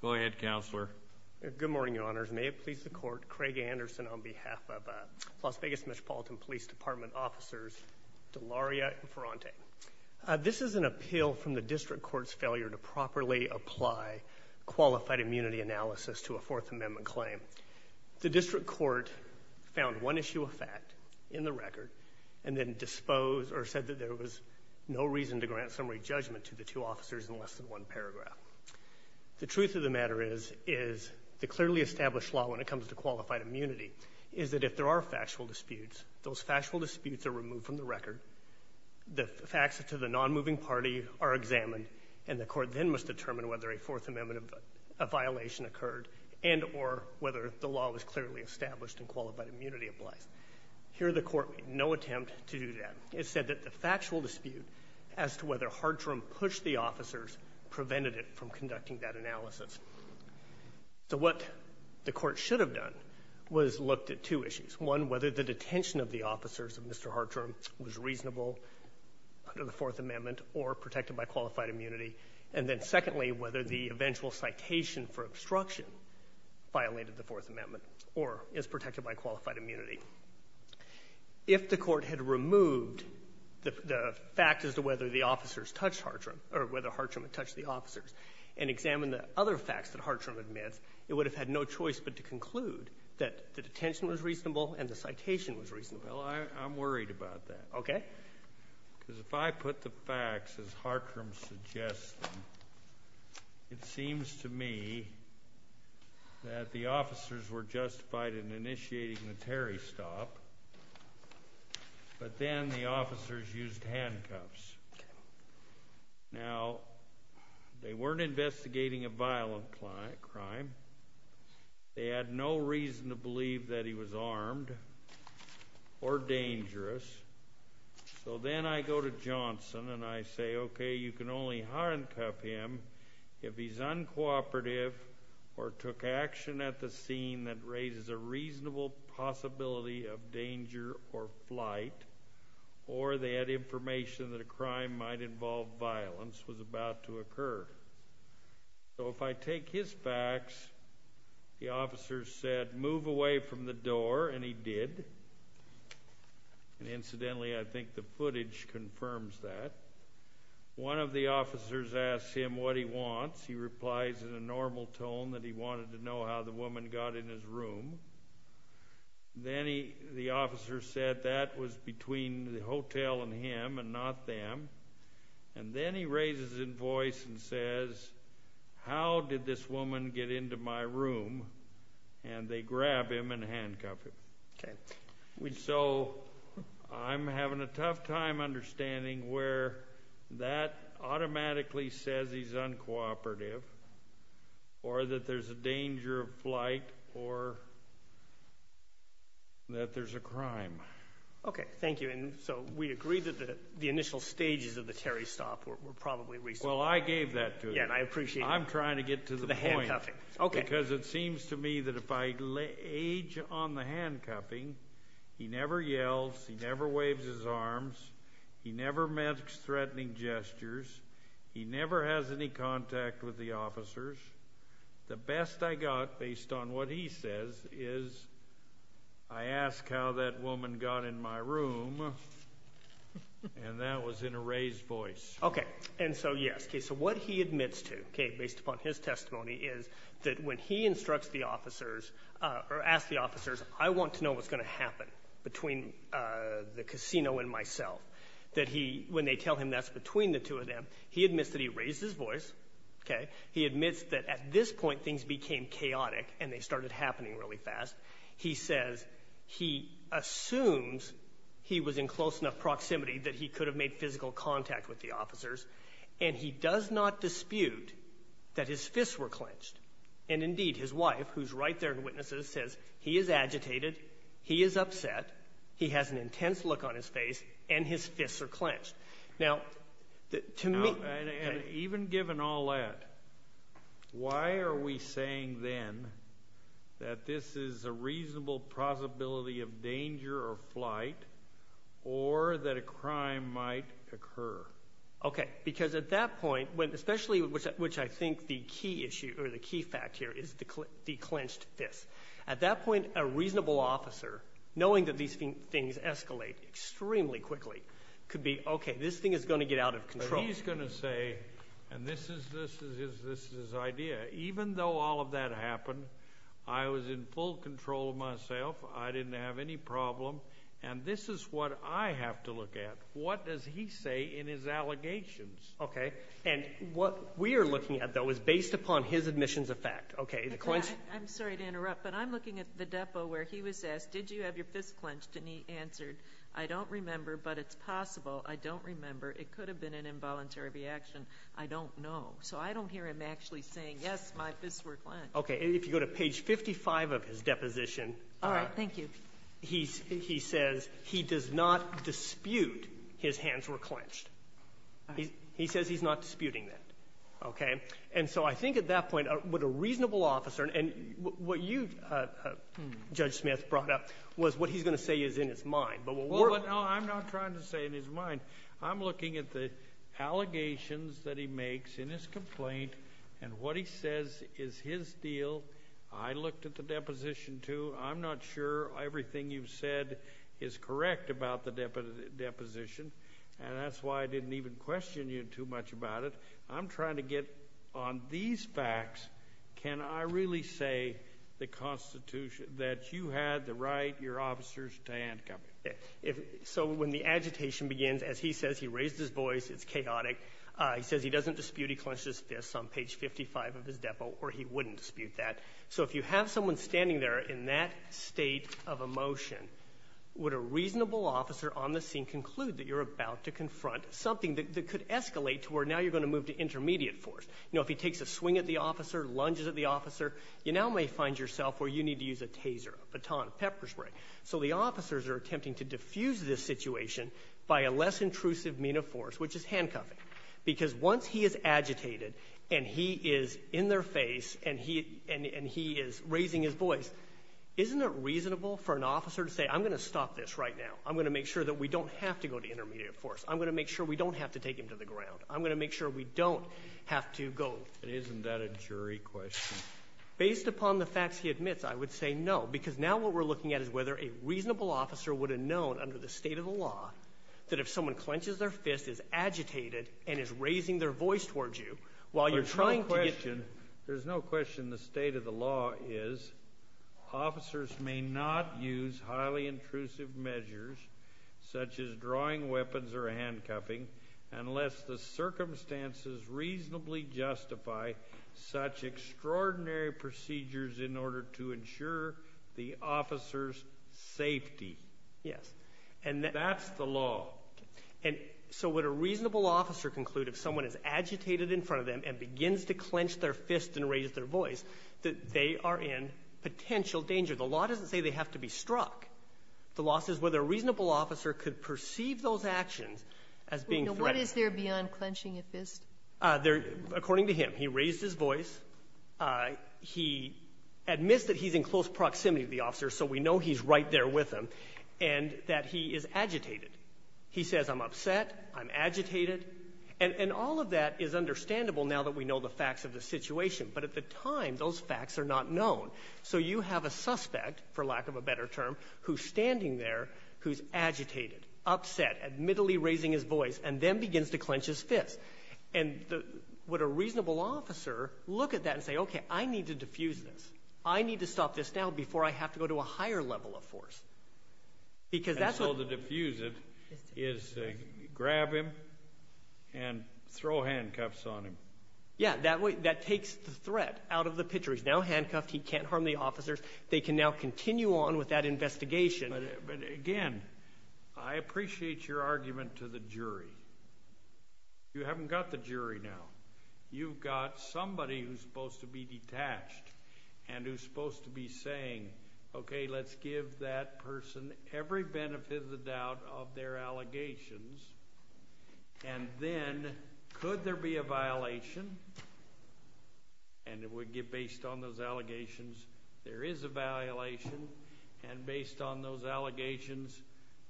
Go ahead, Counselor. Good morning, Your Honors. May it please the Court, Craig Anderson on behalf of Las Vegas Metropolitan Police Department officers DeLaria and Ferrante. This is an appeal from the District Court's failure to properly apply qualified immunity analysis to a Fourth Amendment claim. The District Court found one issue of fact in the record and then disposed or said that there was no reason to grant summary judgment to the two officers in less than one paragraph. The truth of the matter is, is the clearly established law when it comes to qualified immunity is that if there are factual disputes, those factual disputes are removed from the record, the facts to the non-moving party are examined, and the Court then must determine whether a Fourth Amendment violation occurred and or whether the law was clearly established and qualified immunity applies. Here the Court made no attempt to do that. It said that the factual dispute as to whether Hartrim pushed the officers prevented it from conducting that analysis. So what the Court should have done was looked at two issues. One, whether the detention of the officers of Mr. Hartrim was reasonable under the Fourth Amendment or protected by qualified immunity. And then, secondly, whether the eventual citation for obstruction violated the Fourth Amendment or is protected by qualified immunity. If the Court had removed the fact as to whether the officers touched Hartrim or whether Hartrim had touched the officers and examined the other facts that Hartrim admits, it would have had no choice but to conclude that the detention was reasonable and the citation was reasonable. Well, I'm worried about that. Okay. Because if I put the facts as Hartrim suggests them, it seems to me that the officers were justified in initiating the Terry stop, but then the officers used handcuffs. Now, they weren't investigating a violent crime. They had no reason to believe that he was armed or dangerous. So then I go to Johnson and I say, okay, you can only handcuff him if he's uncooperative or took action at the scene that raises a reasonable possibility of danger or flight or they had information that a crime might involve violence was about to occur. So if I take his facts, the officers said, move away from the door, and he did. And incidentally, I think the footage confirms that. One of the officers asks him what he wants. He replies in a normal tone that he wanted to know how the woman got in his room. Then the officer said that was between the hotel and him and not them. And then he raises a voice and says, how did this woman get into my room? And they grab him and handcuff him. Okay. So I'm having a tough time understanding where that automatically says he's uncooperative or that there's a danger of flight or that there's a crime. Okay. Thank you. And so we agree that the initial stages of the Terry stop were probably reasonable. Well, I gave that to you. Yeah, and I appreciate it. I'm trying to get to the point. To the handcuffing. Okay. Because it seems to me that if I age on the handcuffing, he never yells, he never waves his arms, he never makes threatening gestures, he never has any contact with the officers. The best I got, based on what he says, is I ask how that woman got in my room, and that was in a raised voice. Okay. And so, yes. Okay. So what he admits to, okay, based upon his testimony, is that when he instructs the officers or asks the officers, I want to know what's going to happen between the casino and myself, that he, when they tell him that's between the two of them, he admits that he raised his voice. Okay. He admits that at this point things became chaotic and they started happening really fast. He says he assumes he was in close enough contact with the officers, and he does not dispute that his fists were clenched. And indeed, his wife, who's right there in witnesses, says he is agitated, he is upset, he has an intense look on his face, and his fists are clenched. Now, to me, okay. Now, and even given all that, why are we saying then that this is a reasonable possibility of danger or flight, or that a crime might occur? Okay. Because at that point, especially which I think the key issue or the key fact here is the clenched fists. At that point, a reasonable officer, knowing that these things escalate extremely quickly, could be, okay, this thing is going to get out of control. But he's going to say, and this is his idea, even though all of that happened, I was in full control of myself. I didn't have any problem. And this is what I have to look at. What does he say in his allegations? Okay. And what we are looking at, though, is based upon his admissions of fact. Okay. I'm sorry to interrupt, but I'm looking at the depot where he was asked, did you have your fists clenched? And he answered, I don't remember, but it's possible. I don't remember. It could have been an involuntary reaction. I don't know. So I don't hear him actually saying, yes, my fists were clenched. Okay. And if you go to page 55 of his deposition, he says, he does not dispute his hands were clenched. He says he's not disputing that. Okay. And so I think at that point, would a reasonable officer, and what you, Judge Smith, brought up was what he's going to say is in his mind. Well, I'm not trying to say in his mind. I'm looking at the allegations that he makes in his complaint, and what he says is his deal. I looked at the deposition, too. I'm not sure everything you've said is correct about the deposition, and that's why I didn't even question you too much about it. I'm trying to get on these facts. Can I really say the Constitution, that you had the right, your officers, to handcuff you? So when the agitation begins, as he says, he raised his voice. It's chaotic. He says he doesn't dispute he clenched his fists on page 55 of his depo, or he wouldn't dispute that. So if you have someone standing there in that state of emotion, would a reasonable officer on the scene conclude that you're about to confront something that could escalate to where now you're going to move to intermediate force? You know, if he takes a swing at the officer, lunges at the officer, you now may find yourself where you need to use a taser, a baton, pepper spray. So the officers are attempting to diffuse this situation by a less intrusive mean of Because once he is agitated, and he is in their face, and he is raising his voice, isn't it reasonable for an officer to say, I'm going to stop this right now. I'm going to make sure that we don't have to go to intermediate force. I'm going to make sure we don't have to take him to the ground. I'm going to make sure we don't have to go. And isn't that a jury question? Based upon the facts he admits, I would say no, because now what we're looking at is whether a reasonable officer would have known under the state of the law that if someone clenches their fist, is agitated, and is raising their voice towards you, while you're trying to get There's no question the state of the law is, officers may not use highly intrusive measures such as drawing weapons or handcuffing unless the circumstances reasonably justify such extraordinary procedures in order to ensure the officer's safety. Yes. And that's the law. Okay. And so would a reasonable officer conclude if someone is agitated in front of them and begins to clench their fist and raise their voice, that they are in potential danger? The law doesn't say they have to be struck. The law says whether a reasonable officer could perceive those actions as being threatened. What is there beyond clenching a fist? According to him, he raised his voice. He admits that he's in close proximity to the officer, so we know he's right there with him, and that he is agitated. He says, I'm upset, I'm agitated, and all of that is understandable now that we know the facts of the situation. But at the time, those facts are not known. So you have a suspect, for lack of a better term, who's standing there, who's agitated, upset, admittedly raising his voice, and then begins to clench his fist. And would a reasonable officer look at that and say, okay, I need to defuse this. I need to stop this now before I have to go to a higher level of force. Because that's what- And so to defuse it is to grab him and throw handcuffs on him. Yeah, that takes the threat out of the picture. He's now handcuffed, he can't harm the officers. They can now continue on with that investigation. But again, I appreciate your argument to the jury. You haven't got the jury now. You've got somebody who's supposed to be detached and who's supposed to be saying, okay, let's give that person every benefit of the doubt of their allegations. And then, could there be a violation? And based on those allegations, there is a violation. And based on those allegations,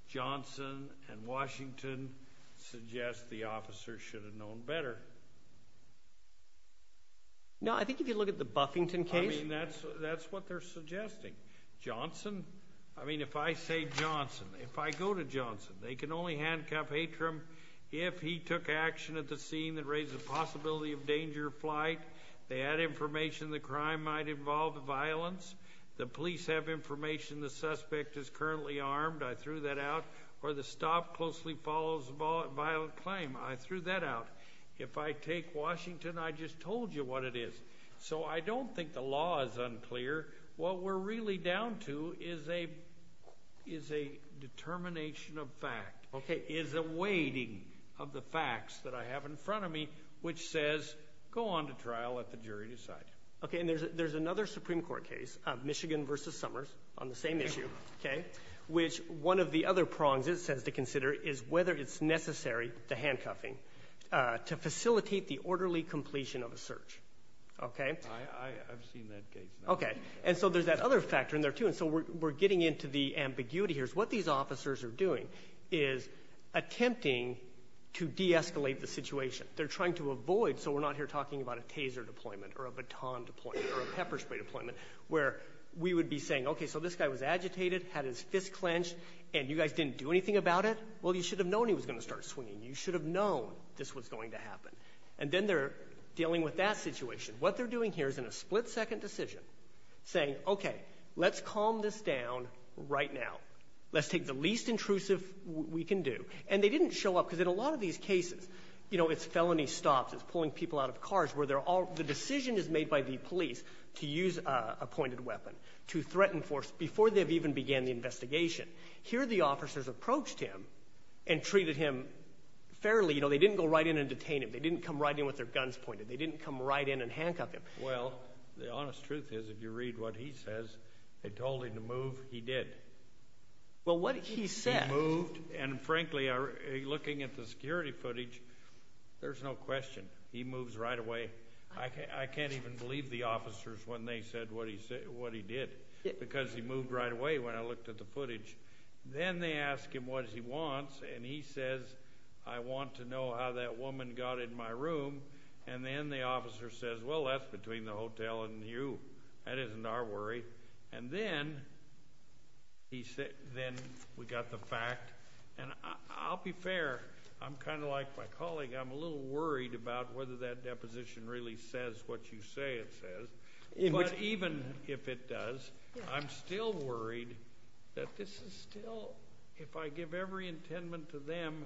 Johnson and Washington suggest the officer should have known better. No, I think if you look at the Buffington case- I mean, that's what they're suggesting. Johnson, I mean, if I say Johnson, if I go to Johnson, they can only handcuff Atrum if he took action at the scene that raised the possibility of danger of flight. They had information the crime might involve violence. The police have information the suspect is currently armed, I threw that out. Or the stop closely follows a violent claim, I threw that out. If I take Washington, I just told you what it is. So I don't think the law is unclear. What we're really down to is a determination of fact. Okay, is a weighting of the facts that I have in front of me, which says, go on to trial, let the jury decide. Okay, and there's another Supreme Court case, Michigan versus Summers, on the same issue, okay? Which one of the other prongs it says to consider is whether it's necessary the handcuffing, to facilitate the orderly completion of a search, okay? I've seen that case. Okay, and so there's that other factor in there too. And so we're getting into the ambiguity here. What these officers are doing is attempting to de-escalate the situation. They're trying to avoid, so we're not here talking about a taser deployment, or a baton deployment, or a pepper spray deployment. Where we would be saying, okay, so this guy was agitated, had his fist clenched, and you guys didn't do anything about it? Well, you should have known he was going to start swinging. You should have known this was going to happen. And then they're dealing with that situation. What they're doing here is in a split-second decision, saying, okay, let's calm this down right now. Let's take the least intrusive we can do. And they didn't show up, because in a lot of these cases, you know, it's felony stops, it's pulling people out of cars, where they're all the decision is made by the police to use a pointed weapon, to threaten force before they've even began the investigation. Here, the officers approached him and treated him fairly. You know, they didn't go right in and detain him. They didn't come right in with their guns pointed. They didn't come right in and handcuff him. Well, the honest truth is, if you read what he says, they told him to move. He did. Well, what he said... He moved, and frankly, looking at the security footage, there's no question. He moves right away. I can't even believe the officers when they said what he did, because he moved right away when I looked at the footage. Then they ask him what he wants, and he says, I want to know how that woman got in my room. And then the officer says, well, that's between the hotel and you. That isn't our worry. And then we got the fact. And I'll be fair. I'm kind of like my colleague. I'm a little worried about whether that deposition really says what you say it doesn't. I'm worried that this is still, if I give every intendment to them,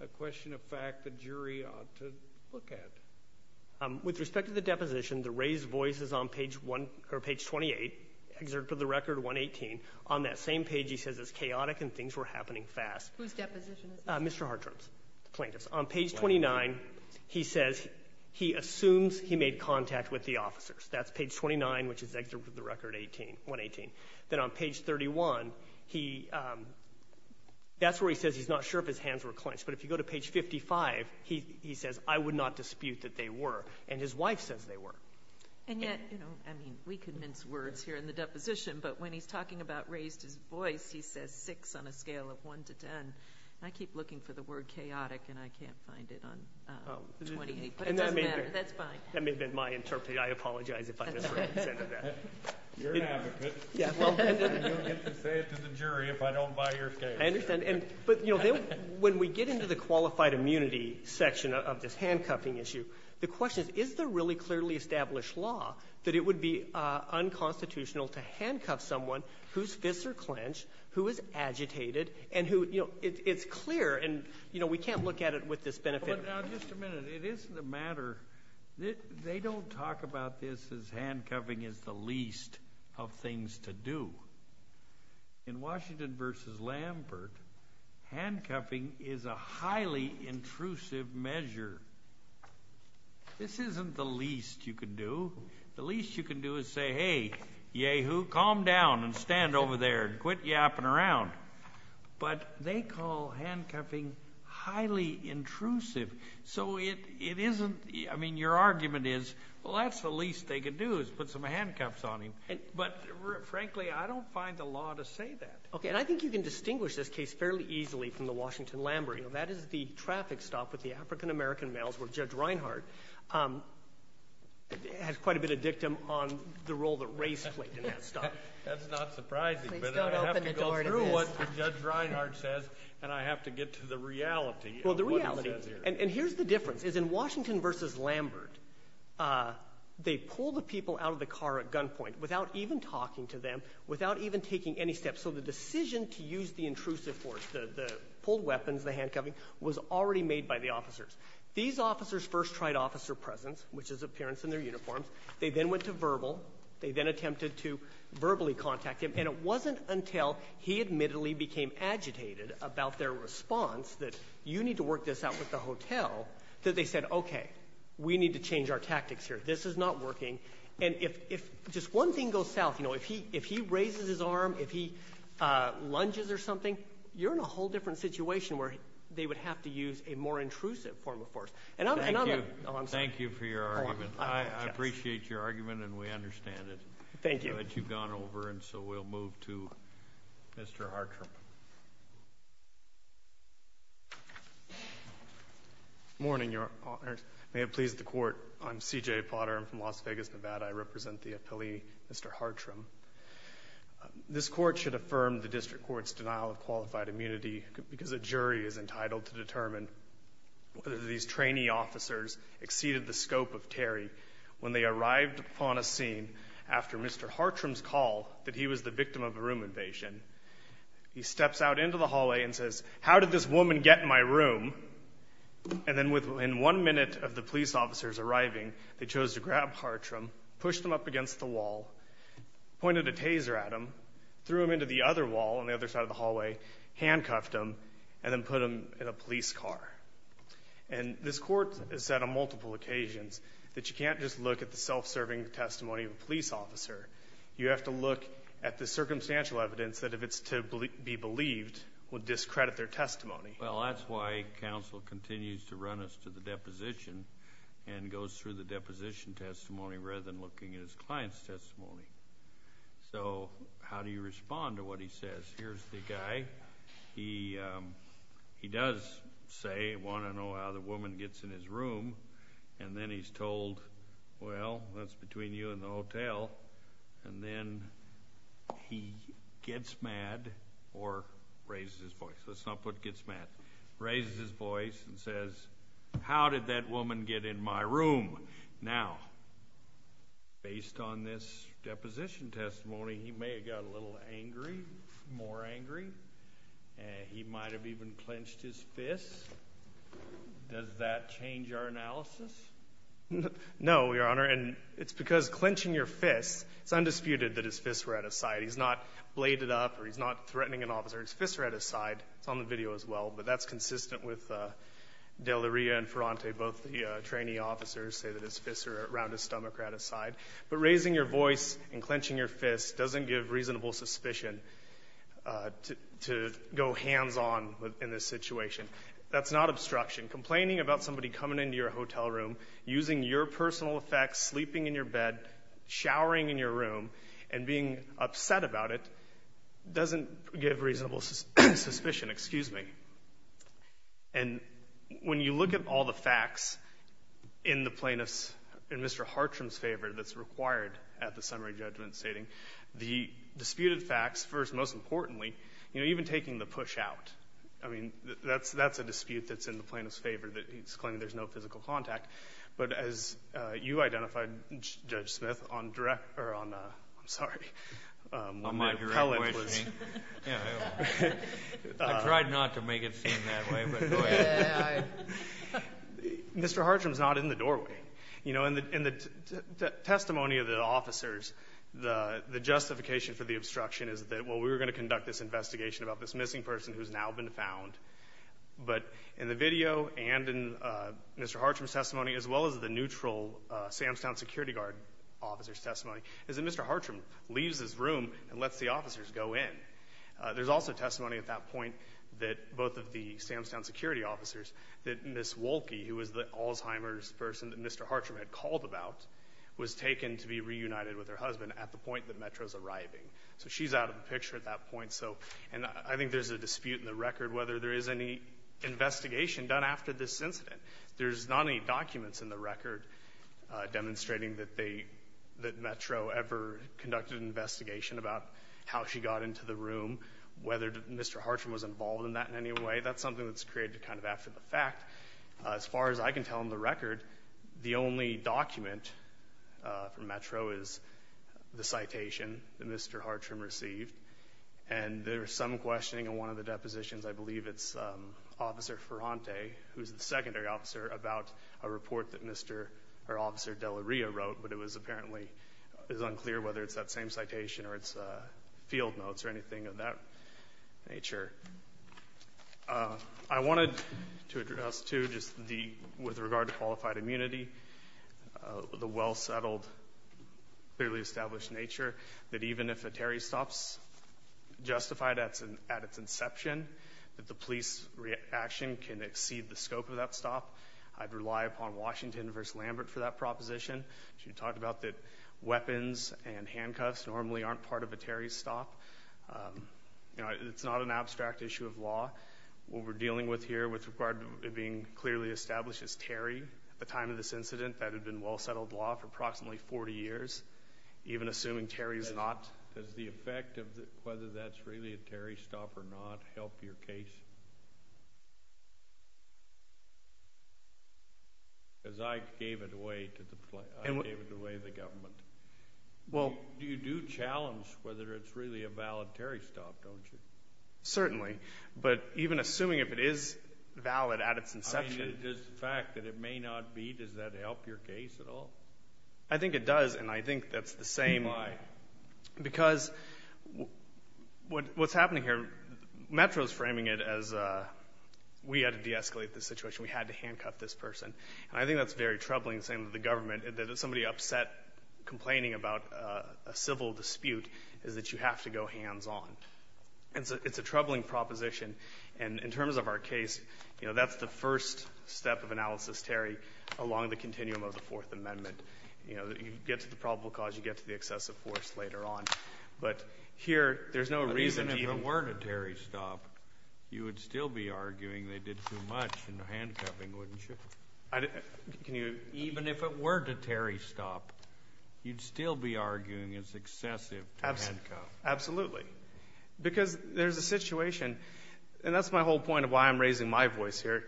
a question of fact the jury ought to look at. With respect to the deposition, the raised voice is on page 28, excerpt of the record 118. On that same page, he says it's chaotic and things were happening fast. Whose deposition is this? Mr. Hartram's. The plaintiff's. On page 29, he says he assumes he made contact with the officers. That's page 29, which is excerpt of the record 118. Then on page 31, that's where he says he's not sure if his hands were clenched. But if you go to page 55, he says, I would not dispute that they were. And his wife says they were. And yet, you know, I mean, we can mince words here in the deposition, but when he's talking about raised his voice, he says six on a scale of one to ten. I keep looking for the word chaotic and I can't find it on 28, but it doesn't matter. That's fine. That may have been my interpretation. I apologize if I misrepresented that. You're an advocate. You'll get to say it to the jury if I don't buy your case. I understand. And but, you know, when we get into the qualified immunity section of this handcuffing issue, the question is, is there really clearly established law that it would be unconstitutional to handcuff someone whose fists are clenched, who is agitated and who, you know, it's clear and, you know, we can't look at it with this benefit. Now, just a minute. It isn't a matter. They don't talk about this as handcuffing is the least of things to do. In Washington versus Lambert, handcuffing is a highly intrusive measure. This isn't the least you can do. The least you can do is say, hey, yahoo, calm down and stand over there and quit yapping around. But they call handcuffing highly intrusive. So it isn't, I mean, your argument is, well, that's the least they could do is put some handcuffs on him. But frankly, I don't find the law to say that. Okay. And I think you can distinguish this case fairly easily from the Washington Lambert. That is the traffic stop with the African-American males where Judge Reinhardt has quite a bit of dictum on the role that race played in that stop. That's not surprising. Please don't open the door to this. But I have to go through what Judge Reinhardt says, and I have to get to the reality of what he says here. And here's the difference, is in Washington v. Lambert, they pull the people out of the car at gunpoint without even talking to them, without even taking any steps. So the decision to use the intrusive force, the pulled weapons, the handcuffing, was already made by the officers. These officers first tried officer presence, which is appearance in their uniforms. They then went to verbal. They then attempted to verbally contact him. And it wasn't until he admittedly became agitated about their response that you need to work this out with the hotel, that they said, okay, we need to change our tactics here. This is not working. And if just one thing goes south, you know, if he raises his arm, if he lunges or something, you're in a whole different situation where they would have to use a more intrusive form of force. And I'm not— Thank you. Thank you for your argument. I appreciate your argument, and we understand it. Thank you. But you've gone over, and so we'll move to Mr. Hartram. Good morning, Your Honors. May it please the Court. I'm C.J. Potter. I'm from Las Vegas, Nevada. I represent the appellee, Mr. Hartram. This Court should affirm the district court's denial of qualified immunity because a jury is entitled to determine whether these trainee officers exceeded the scope of Terry when they arrived upon a scene after Mr. Hartram's call that he was the victim of a room invasion. He steps out into the hallway and says, how did this woman get in my room? And then within one minute of the police officers arriving, they chose to grab Hartram, pushed him up against the wall, pointed a taser at him, threw him into the other wall on the other side of the hallway, handcuffed him, and then put him in a police car. And this Court has said on multiple occasions that you can't just look at the self-serving testimony of a police officer. You have to look at the circumstantial evidence that if it's to be believed would discredit their testimony. Well, that's why counsel continues to run us to the deposition and goes through the deposition testimony rather than looking at his client's testimony. So how do you respond to what he says? Here's the guy. He does say he wants to know how the woman gets in his room, and then he's told, well, that's between you and the hotel, and then he gets mad or raises his voice. Let's not put gets mad. Raises his voice and says, how did that woman get in my room? Now, based on this deposition testimony, he may have got a little angry, more angry. He might have even clenched his fists. Does that change our analysis? No, Your Honor, and it's because clenching your fists, it's undisputed that his fists were at his side. He's not bladed up or he's not threatening an officer. His fists are at his side. It's on the video as well, but that's consistent with DeLaria and Ferrante. Both the trainee officers say that his fists are around his stomach or at his side. But raising your voice and clenching your fists doesn't give reasonable suspicion to go hands-on in this situation. That's not obstruction. Complaining about somebody coming into your hotel room, using your personal effects, sleeping in your bed, showering in your room, and being upset about it doesn't give reasonable suspicion. Excuse me. And when you look at all the facts in the plaintiff's, in Mr. Hartram's favor that's required at the summary judgment stating, the disputed facts, first and most importantly, you know, even taking the push out. I mean, that's a dispute that's in the plaintiff's favor that he's claiming there's no physical contact. But as you identified, Judge Smith, on direct or on, I'm sorry, when your appellate was. I tried not to make it seem that way, but go ahead. Mr. Hartram's not in the doorway. You know, in the testimony of the officers, the justification for the obstruction is that, well, we were going to conduct this investigation about this missing person who's now been found. But in the video and in Mr. Hartram's testimony, as well as the neutral Samstown security guard officer's testimony, is that Mr. Hartram leaves his room and lets the officers go in. There's also testimony at that point that both of the Samstown security officers, that Ms. Wolke, who was the Alzheimer's person that Mr. Hartram had called about, was taken to be reunited with her husband at the point that Metro's arriving. So she's out of the picture at that point. So, and I think there's a dispute in the record whether there is any investigation done after this incident. There's not any documents in the record demonstrating that they, that Metro ever conducted an investigation about how she got into the room, whether Mr. Hartram was involved in that in any way. That's something that's created kind of after the fact. As far as I can tell in the record, the only document from Metro is the citation that Mr. Hartram received. And there's some questioning on one of the depositions. I believe it's Officer Ferrante, who's the secondary officer, about a report that Mr. or Officer Della Ria wrote, but it was apparently unclear whether it's that same citation or it's field notes or anything of that nature. I wanted to address, too, just the, with regard to qualified immunity, the well-settled, clearly established nature that even if a Terry stop's justified at its inception, that the police reaction can exceed the scope of that stop. I'd rely upon Washington v. Lambert for that proposition. She talked about that weapons and handcuffs normally aren't part of a Terry stop. You know, it's not an abstract issue of law. What we're dealing with here with regard to it being clearly established is Terry, at the time of this incident, that had been well-settled law for approximately 40 years, even assuming Terry's not. Does the effect of whether that's really a Terry stop or not help your case? Because I gave it away to the, I gave it away to the government. Well. You do challenge whether it's really a valid Terry stop, don't you? Certainly. But even assuming if it is valid at its inception. Does the fact that it may not be, does that help your case at all? I think it does. And I think that's the same. Why? Because what's happening here, Metro's framing it as we had to de-escalate the situation. We had to handcuff this person. And I think that's very troubling, saying to the government that if somebody upset complaining about a civil dispute is that you have to go hands-on. And so it's a troubling proposition. And in terms of our case, you know, that's the first step of analysis, Terry, along the continuum of the Fourth Amendment. You know, you get to the probable cause. You get to the excessive force later on. But here there's no reason to even. If it were a Terry stop, you would still be arguing they did too much in handcuffing, wouldn't you? Can you. Even if it were a Terry stop, you'd still be arguing it's excessive to handcuff. Absolutely. Because there's a situation, and that's my whole point of why I'm raising my voice here.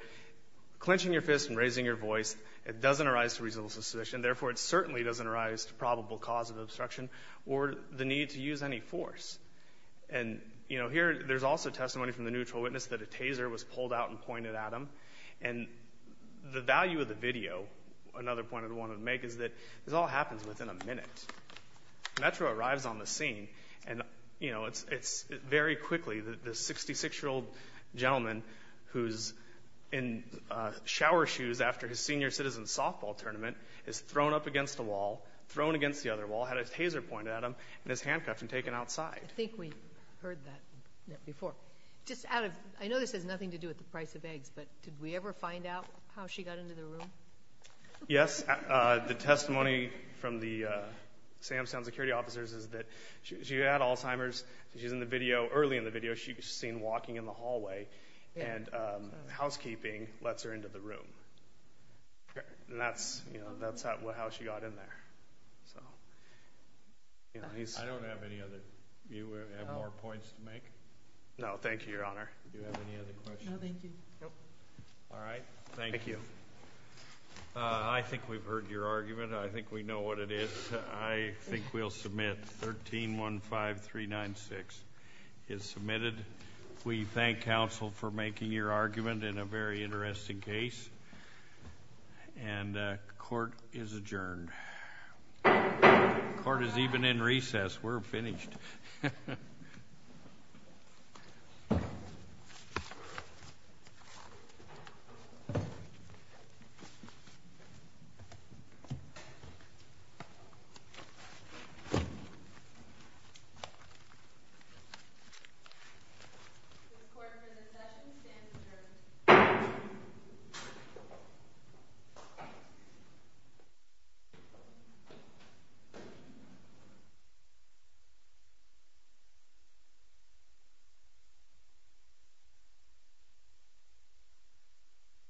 Clenching your fist and raising your voice, it doesn't arise to reasonable suspicion. Therefore, it certainly doesn't arise to probable cause of obstruction or the need to use any force. And, you know, here there's also testimony from the neutral witness that a taser was pulled out and pointed at him. And the value of the video, another point I wanted to make, is that this all happens within a minute. Metro arrives on the scene, and, you know, it's very quickly the 66-year-old gentleman who's in shower shoes after his senior citizen softball tournament is thrown up against a wall, thrown against the other wall, had a taser pointed at him, and is handcuffed and taken outside. I think we heard that before. Just out of – I know this has nothing to do with the price of eggs, but did we ever find out how she got into the room? Yes. The testimony from the Samson Security Officers is that she had Alzheimer's. She's in the video. Early in the video, she's seen walking in the hallway, and housekeeping lets her into the room. And that's how she got in there. I don't have any other – you have more points to make? No, thank you, Your Honor. Do you have any other questions? No, thank you. All right. Thank you. I think we've heard your argument. I think we know what it is. I think we'll submit. 1315396 is submitted. We thank counsel for making your argument in a very interesting case. And court is adjourned. Court is even in recess. We're finished. Thank you.